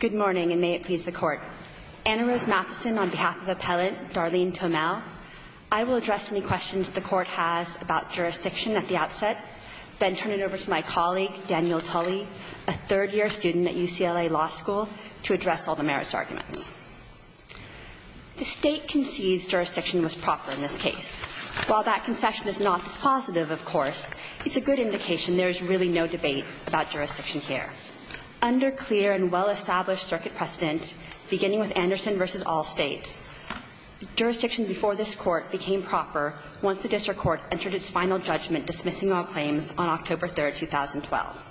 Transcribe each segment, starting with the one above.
Good morning, and may it please the Court. Anna Rose Matheson on behalf of Appellant Darlene Tomel. I will address any questions the Court has about jurisdiction at the outset, then turn it over to my colleague, Daniel Tully, a third-year student at UCLA Law School, to address all the merits arguments. The State concedes jurisdiction was proper in this case. While that concession is not as positive, of course, it's a good indication there is really no debate about jurisdiction here. Under clear and well-established circuit precedent, beginning with Anderson v. All States, jurisdiction before this Court became proper once the district court entered its final judgment dismissing all claims on October 3, 2012.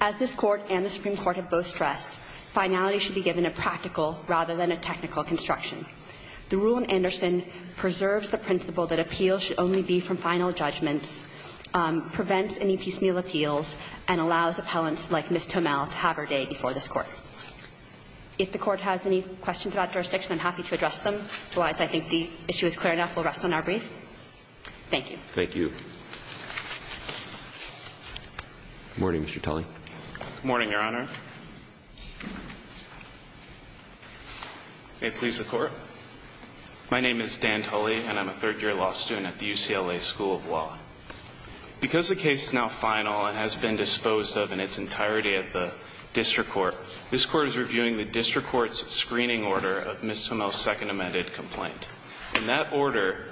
As this Court and the Supreme Court have both stressed, finality should be given a practical rather than a technical construction. The rule in Anderson preserves the principle that appeals should only be from final judgments, prevents any piecemeal appeals, and allows appellants like Ms. Tomel to have her day before this Court. If the Court has any questions about jurisdiction, I'm happy to address them. Otherwise, I think the issue is clear enough. We'll rest on our brief. Thank you. Thank you. Good morning, Mr. Tully. Good morning, Your Honor. May it please the Court. My name is Dan Tully, and I'm a third-year law student at the UCLA School of Law. Because the case is now final and has been disposed of in its entirety at the district court, this Court is reviewing the district court's screening order of Ms. Tomel's second amended complaint. In that order,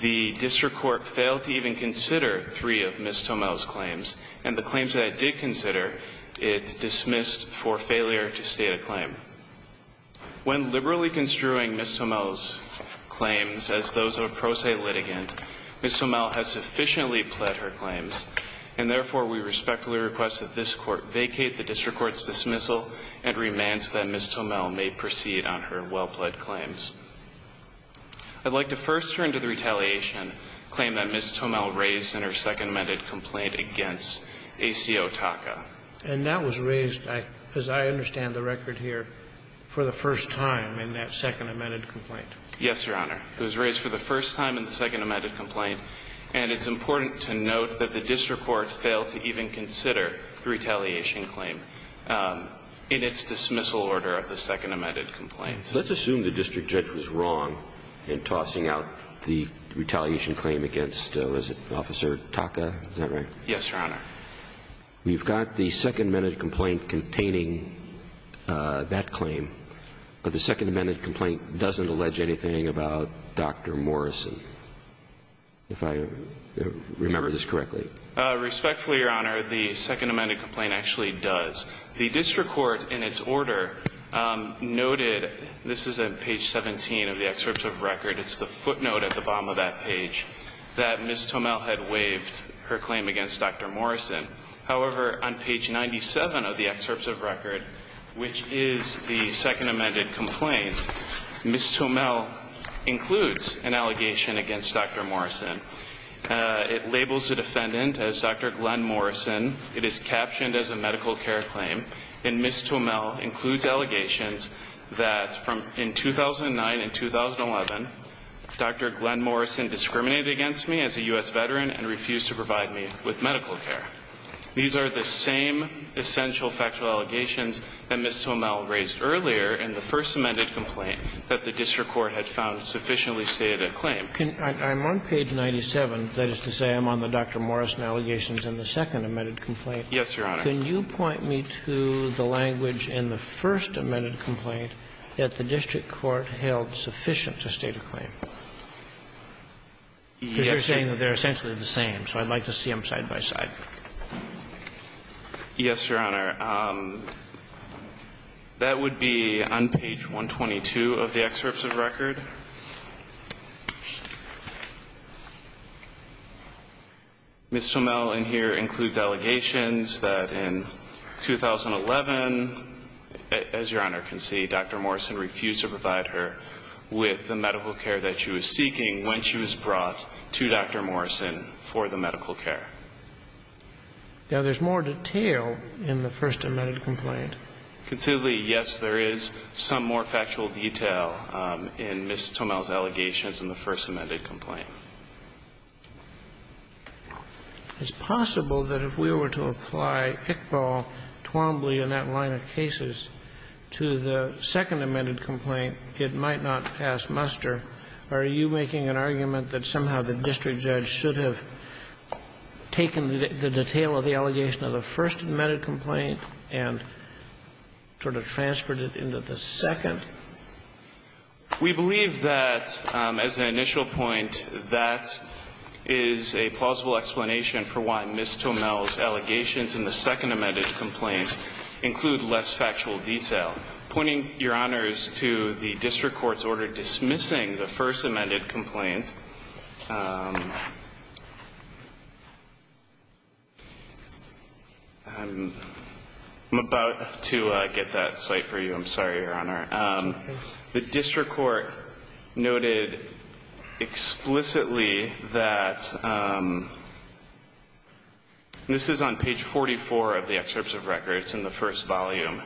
the district court failed to even consider three of Ms. Tomel's claims. In that order, it dismissed for failure to state a claim. When liberally construing Ms. Tomel's claims as those of a pro se litigant, Ms. Tomel has sufficiently pled her claims, and therefore we respectfully request that this Court vacate the district court's dismissal and remand that Ms. Tomel may proceed on her well-pled claims. I'd like to first turn to the retaliation claim that Ms. Tomel raised in her second amended complaint against ACO Taka. And that was raised, as I understand the record here, for the first time in that second amended complaint. Yes, Your Honor. It was raised for the first time in the second amended complaint. And it's important to note that the district court failed to even consider the retaliation claim in its dismissal order of the second amended complaint. So let's assume the district judge was wrong in tossing out the retaliation claim against, was it Officer Taka? Is that right? Yes, Your Honor. You've got the second amended complaint containing that claim, but the second amended complaint doesn't allege anything about Dr. Morrison. If I remember this correctly. Respectfully, Your Honor, the second amended complaint actually does. The district court in its order noted, this is at page 17 of the excerpt of record, it's the footnote at the bottom of that page, that Ms. Tomel had waived her claim against Dr. Morrison. However, on page 97 of the excerpt of record, which is the second amended complaint, Ms. Tomel includes an allegation against Dr. Morrison. It labels the defendant as Dr. Glenn Morrison. It is captioned as a medical care claim. And Ms. Tomel includes allegations that from in 2009 and 2011, Dr. Glenn Morrison discriminated against me as a U.S. veteran and refused to provide me with medical care. These are the same essential factual allegations that Ms. Tomel raised earlier in the first amended complaint that the district court had found sufficiently stated a claim. I'm on page 97. That is to say, I'm on the Dr. Morrison allegations in the second amended complaint. Yes, Your Honor. Can you point me to the language in the first amended complaint that the district court held sufficient to state a claim? Because you're saying that they're essentially the same, so I'd like to see them side by side. Yes, Your Honor. That would be on page 122 of the excerpt of record. Ms. Tomel in here includes allegations that in 2011, as Your Honor can see, Dr. Morrison refused to provide her with the medical care that she was seeking when she was brought to Dr. Morrison for the medical care. Now, there's more detail in the first amended complaint. Considerably, yes, there is some more factual detail in Ms. Tomel's allegations in the first amended complaint. It's possible that if we were to apply Iqbal, Twombly, and that line of cases to the second amended complaint, it might not pass muster. Are you making an argument that somehow the district judge should have taken the detail of the allegation of the first amended complaint and sort of transferred it into the second? We believe that, as an initial point, that is a plausible explanation for why Ms. Tomel's allegations in the second amended complaint include less factual detail. Pointing, Your Honors, to the district court's order dismissing the first amended complaint, I'm about to get that cite for you. I'm sorry, Your Honor. The district court noted explicitly that this is on page 44 of the excerpts of record. It's in the first volume.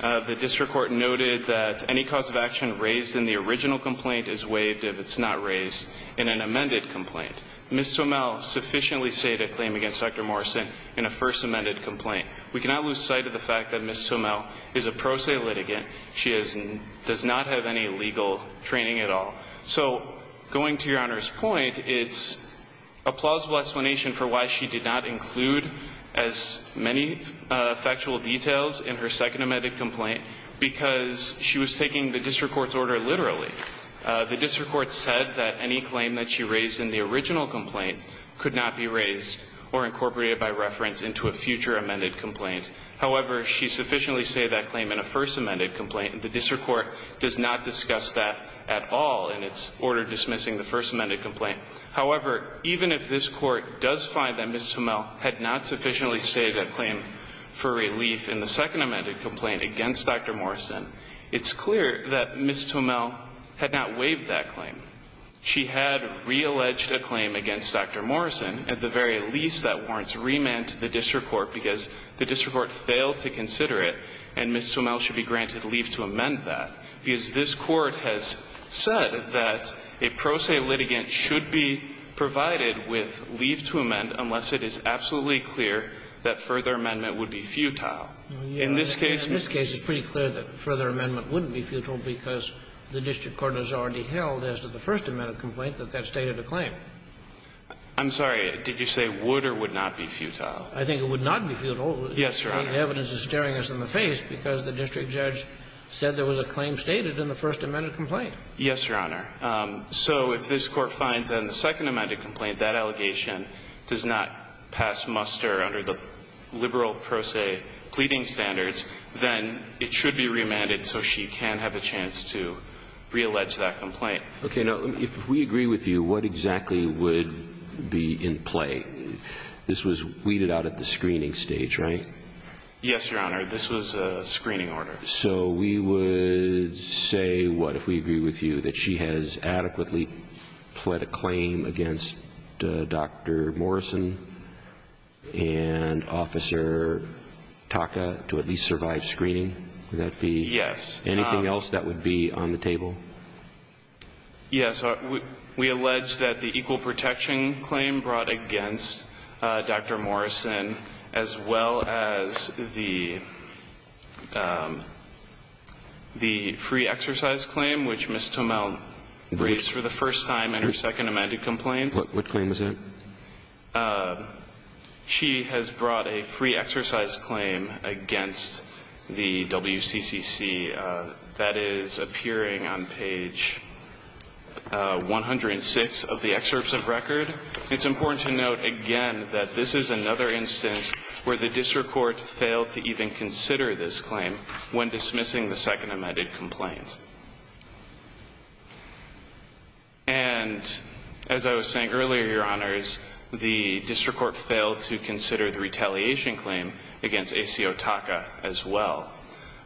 The district court noted that any cause of action raised in the original complaint is waived if it's not raised in an amended complaint. Ms. Tomel sufficiently stated a claim against Dr. Morrison in a first amended complaint. We cannot lose sight of the fact that Ms. Tomel is a pro se litigant. She does not have any legal training at all. So going to Your Honor's point, it's a plausible explanation for why she did not raise any details in her second amended complaint because she was taking the district court's order literally. The district court said that any claim that she raised in the original complaint could not be raised or incorporated by reference into a future amended complaint. However, she sufficiently stated that claim in a first amended complaint. The district court does not discuss that at all in its order dismissing the first amended complaint. However, even if this Court does find that Ms. Tomel had not sufficiently stated a claim for relief in the second amended complaint against Dr. Morrison, it's clear that Ms. Tomel had not waived that claim. She had realleged a claim against Dr. Morrison. At the very least, that warrants remand to the district court because the district court failed to consider it and Ms. Tomel should be granted leave to amend that because this Court has said that a pro se litigant should be provided with leave to amend unless it is absolutely clear that further amendment would be futile. In this case ---- In this case, it's pretty clear that further amendment wouldn't be futile because the district court has already held as to the first amended complaint that that stated a claim. I'm sorry. Did you say would or would not be futile? I think it would not be futile. Yes, Your Honor. The evidence is staring us in the face because the district judge said there was a claim stated in the first amended complaint. Yes, Your Honor. So if this Court finds in the second amended complaint that allegation does not pass muster under the liberal pro se pleading standards, then it should be remanded so she can have a chance to reallege that complaint. Okay. Now, if we agree with you, what exactly would be in play? This was weeded out at the screening stage, right? Yes, Your Honor. This was a screening order. So we would say, what, if we agree with you, that she has adequately pled a claim against Dr. Morrison and Officer Taka to at least survive screening? Yes. Anything else that would be on the table? Yes. We allege that the equal protection claim brought against Dr. Morrison as well as the free exercise claim, which Ms. Tomell raised for the first time in her second amended complaint. What claim is that? She has brought a free exercise claim against the WCCC that is appearing on page 106 of the excerpts of record. It's important to note, again, that this is another instance where the district court failed to even consider this claim when dismissing the second amended complaint. And as I was saying earlier, Your Honors, the district court failed to consider the retaliation claim against ACO Taka as well.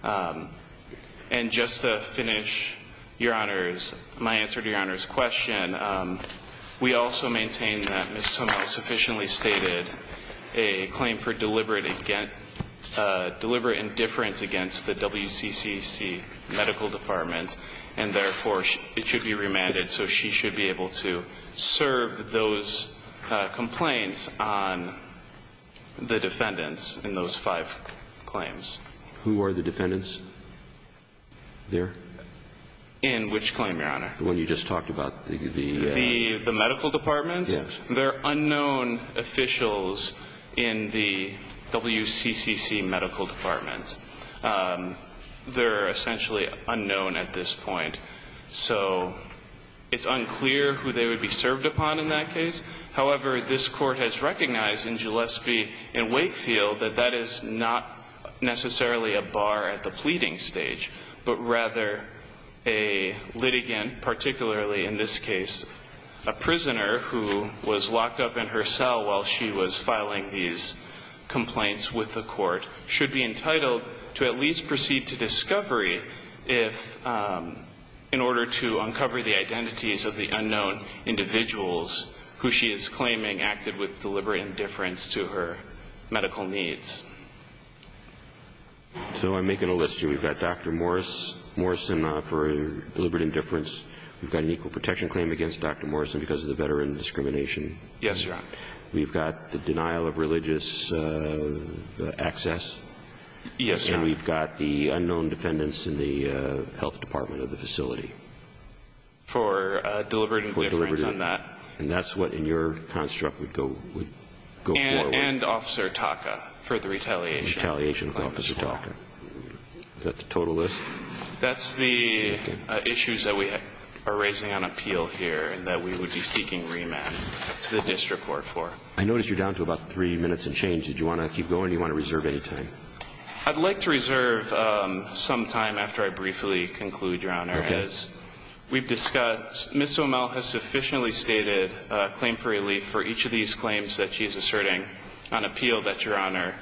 And just to finish, Your Honors, my answer to Your Honors' question, we also maintain that Ms. Tomell sufficiently stated a claim for deliberate indifference against the WCCC medical department, and therefore, it should be remanded. So she should be able to serve those complaints on the defendants in those five claims. Who are the defendants there? In which claim, Your Honor? The one you just talked about. The medical department? Yes. They're unknown officials in the WCCC medical department. They're essentially unknown at this point. So it's unclear who they would be served upon in that case. However, this Court has recognized in Gillespie and Wakefield that that is not necessarily a bar at the pleading stage, but rather a litigant, particularly in this case, a prisoner who was locked up in her cell while she was filing these complaints with the court, should be entitled to at least proceed to discovery if, in order to uncover the identities of the unknown individuals who she is claiming acted with deliberate indifference to her medical needs. So I'm making a list here. We've got Dr. Morrison for deliberate indifference. We've got an equal protection claim against Dr. Morrison because of the veteran discrimination. Yes, Your Honor. We've got the denial of religious access. Yes, Your Honor. And we've got the unknown defendants in the health department of the facility. For deliberate indifference on that. And that's what in your construct would go forward. And Officer Taka for the retaliation. Retaliation with Officer Taka. Is that the total list? That's the issues that we are raising on appeal here and that we would be seeking remand to the district court for. I notice you're down to about three minutes and change. Did you want to keep going or do you want to reserve any time? I'd like to reserve some time after I briefly conclude, Your Honor. Okay. As we've discussed, Ms. Somel has sufficiently stated a claim for relief for each of these claims that she is asserting on appeal that Your Honor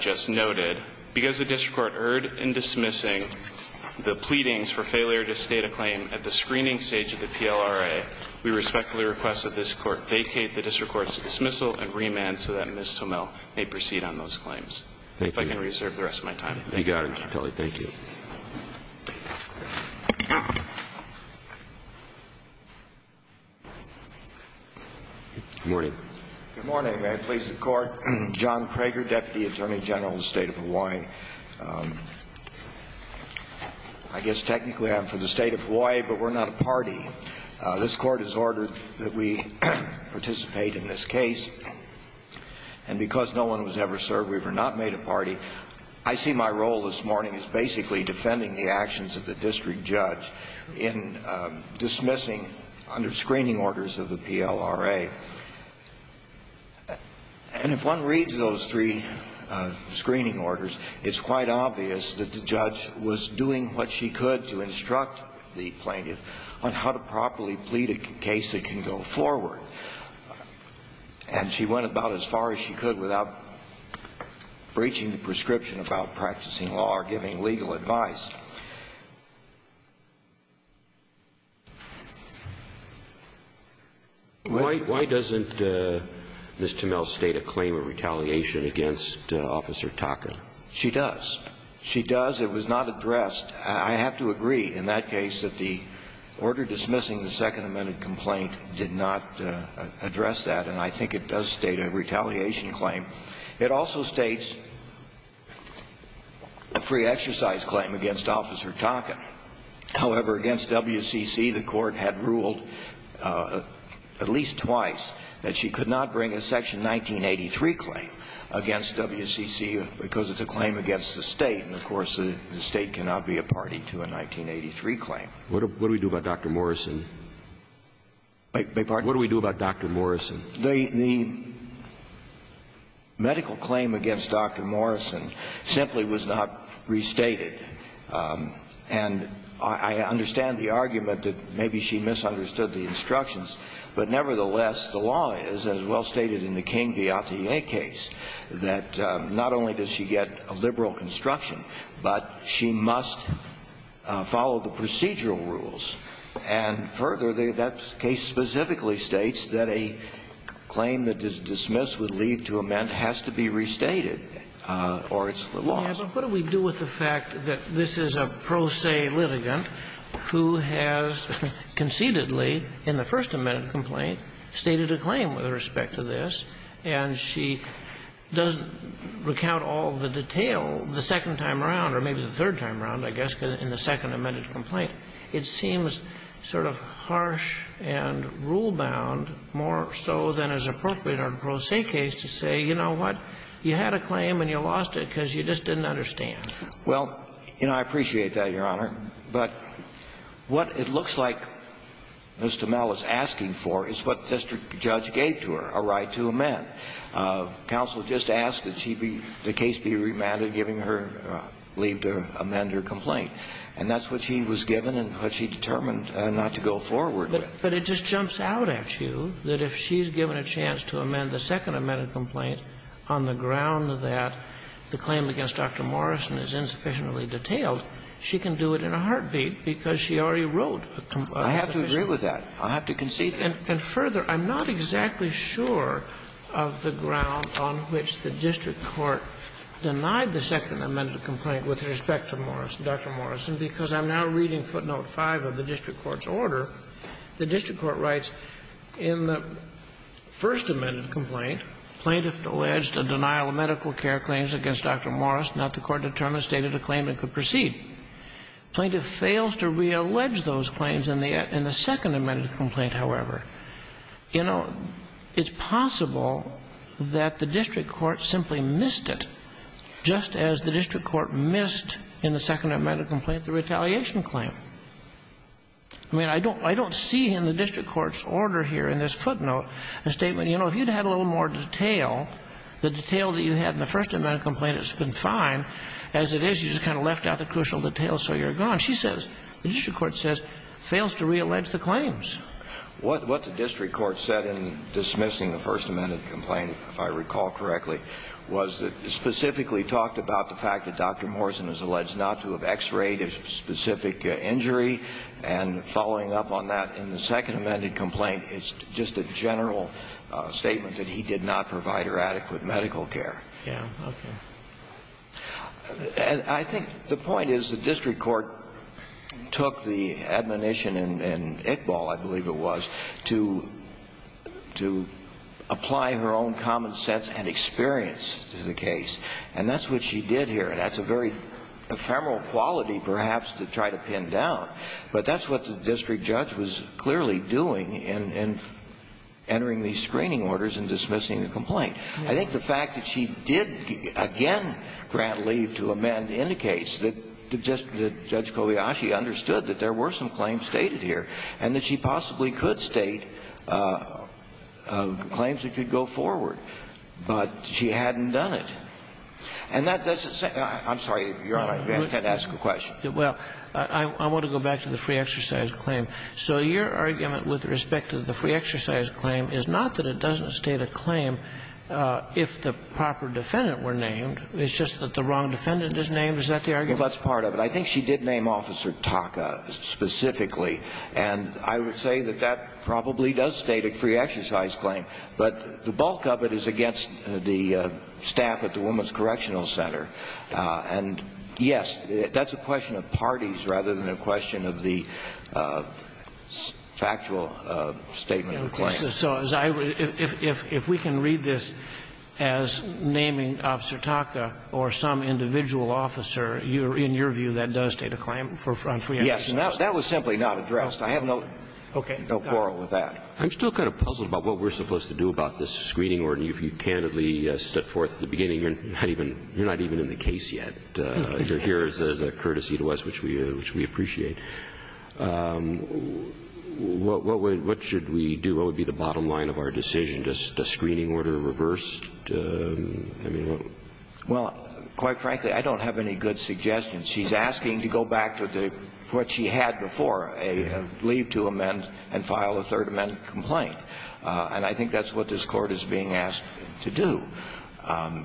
just noted. Because the district court erred in dismissing the pleadings for failure to state a claim at the screening stage of the PLRA, we respectfully request that this court vacate the district court's dismissal and remand so that Ms. Somel may proceed on those claims. Thank you. If I can reserve the rest of my time. You got it, Mr. Tully. Thank you. Good morning. Good morning. May it please the Court. John Prager, Deputy Attorney General of the State of Hawaii. I guess technically I'm for the State of Hawaii, but we're not a party. This Court has ordered that we participate in this case. And because no one was ever served, we were not made a party. I see my role this morning as basically defending the actions of the district judge in dismissing under screening orders of the PLRA. And if one reads those three screening orders, it's quite obvious that the judge was doing what she could to instruct the plaintiff on how to properly plead a case that can go forward. And she went about as far as she could without breaching the prescription about practicing law or giving legal advice. Why doesn't Ms. Somel state a claim of retaliation against Officer Taka? She does. She does. It was not addressed. I have to agree in that case that the order dismissing the Second Amendment complaint did not address that, and I think it does state a retaliation claim. It also states a free exercise claim against Officer Taka. However, against WCC, the Court had ruled at least twice that she could not bring a Section 1983 claim against WCC because it's a claim against the State, and, of course, the State cannot be a party to a 1983 claim. What do we do about Dr. Morrison? I beg your pardon? What do we do about Dr. Morrison? The medical claim against Dr. Morrison simply was not restated. But nevertheless, the law is, as well stated in the King v. Atelier case, that not only does she get a liberal construction, but she must follow the procedural rules, and further, that case specifically states that a claim that is dismissed with leave to amend has to be restated, or it's lost. Yes, but what do we do with the fact that this is a pro se litigant who has concededly in the first amended complaint stated a claim with respect to this, and she doesn't recount all the detail the second time around, or maybe the third time around, I guess, in the second amended complaint? It seems sort of harsh and rule-bound more so than is appropriate on a pro se case to say, you know what, you had a claim and you lost it because you just didn't understand. Well, you know, I appreciate that, Your Honor. But what it looks like Mr. Mell is asking for is what the district judge gave to her, a right to amend. Counsel just asked that she be the case be remanded, giving her leave to amend her complaint. And that's what she was given and what she determined not to go forward with. But it just jumps out at you that if she's given a chance to amend the second amended complaint on the ground that the claim against Dr. Morrison is insufficiently I have to agree with that. I have to concede that. And further, I'm not exactly sure of the ground on which the district court denied the second amended complaint with respect to Morris, Dr. Morrison, because I'm now reading footnote 5 of the district court's order. The district court writes, in the first amended complaint, plaintiff alleged a denial of medical care claims against Dr. Morris, not the court determined stated a claim it could proceed. Plaintiff fails to reallege those claims in the second amended complaint, however. You know, it's possible that the district court simply missed it, just as the district court missed in the second amended complaint the retaliation claim. I mean, I don't see in the district court's order here in this footnote a statement, you know, if you'd had a little more detail, the detail that you had in the first amended complaint, it's been fine, as it is, you just kind of left out the crucial details, so you're gone. She says, the district court says, fails to reallege the claims. What the district court said in dismissing the first amended complaint, if I recall correctly, was that it specifically talked about the fact that Dr. Morrison is alleged not to have X-rayed a specific injury, and following up on that in the second amended complaint, it's just a general statement that he did not provide her adequate medical care. Yeah, okay. And I think the point is the district court took the admonition in Iqbal, I believe it was, to apply her own common sense and experience to the case. And that's what she did here. And that's a very ephemeral quality, perhaps, to try to pin down. But that's what the district judge was clearly doing in entering these screening orders and dismissing the complaint. I think the fact that she did again grant leave to amend indicates that Judge Kobayashi understood that there were some claims stated here and that she possibly could state claims that could go forward. But she hadn't done it. And that doesn't say – I'm sorry, Your Honor, I didn't intend to ask a question. Well, I want to go back to the free exercise claim. So your argument with respect to the free exercise claim is not that it doesn't state a claim if the proper defendant were named. It's just that the wrong defendant is named. Is that the argument? Well, that's part of it. I think she did name Officer Taka specifically. And I would say that that probably does state a free exercise claim. But the bulk of it is against the staff at the Women's Correctional Center. And, yes, that's a question of parties rather than a question of the factual statement of the claim. So if we can read this as naming Officer Taka or some individual officer, in your view, that does state a claim on free exercise? Yes. That was simply not addressed. I have no quarrel with that. Okay. I'm still kind of puzzled about what we're supposed to do about this screening order. If you candidly set forth at the beginning, you're not even in the case yet. You're here as a courtesy to us, which we appreciate. What should we do? What would be the bottom line of our decision? Does screening order reverse? I mean, what? Well, quite frankly, I don't have any good suggestions. She's asking to go back to what she had before, leave to amend and file a third amendment complaint. And I think that's what this Court is being asked to do. I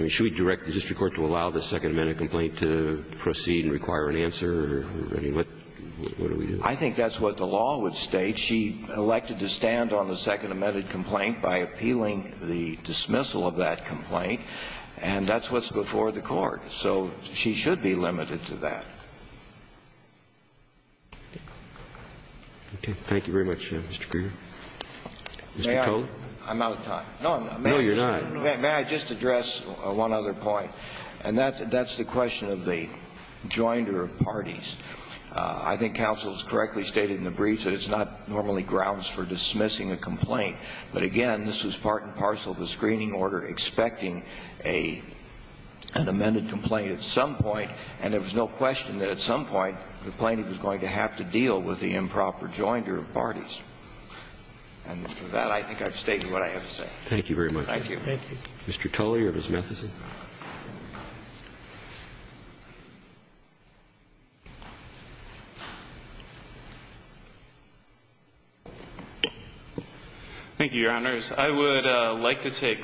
mean, should we direct the district court to allow the second amendment complaint to proceed and require an answer? What do we do? I think that's what the law would state. She elected to stand on the second amended complaint by appealing the dismissal of that complaint. And that's what's before the Court. So she should be limited to that. Okay. Thank you very much, Mr. Kruger. Mr. Kohler? I'm out of time. No, you're not. May I just address one other point? And that's the question of the joinder of parties. I think counsel has correctly stated in the briefs that it's not normally grounds for dismissing a complaint. But, again, this was part and parcel of the screening order expecting an amended complaint at some point, and there was no question that at some point the plaintiff was going to have to deal with the improper joinder of parties. And with that, I think I've stated what I have to say. Thank you very much. Thank you. Mr. Tully or Ms. Matheson? Thank you, Your Honors. I would like to take,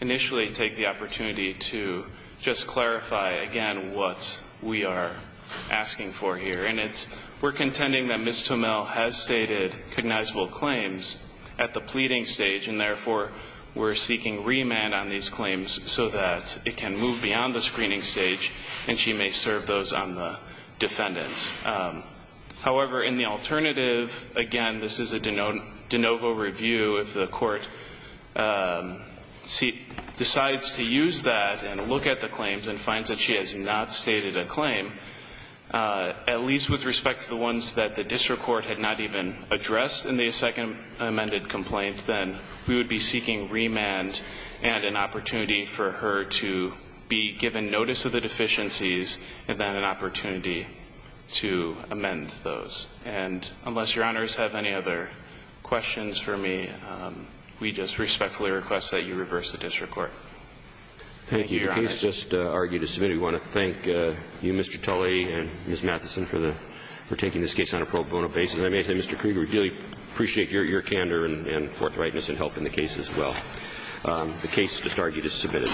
initially take the opportunity to just clarify again what we are asking for here. And it's we're contending that Ms. Tomell has stated cognizable claims at the pleading stage, and therefore we're seeking remand on these claims so that it can move beyond the screening stage and she may serve those on the defendants. However, in the alternative, again, this is a de novo review. If the court decides to use that and look at the claims and finds that she has not stated a claim, at least with respect to the ones that the district court had not even addressed in the second amended complaint, then we would be seeking remand and an opportunity for her to be given notice of the deficiencies and then an opportunity to amend those. And unless Your Honors have any other questions for me, we just respectfully request that you reverse the district court. Thank you, Your Honors. Thank you. Your case just argued as submitted. We want to thank you, Mr. Tully and Ms. Matheson, for taking this case on a pro bono basis. And I may say, Mr. Kruger, we really appreciate your candor and forthrightness in helping the case as well. The case just argued as submitted.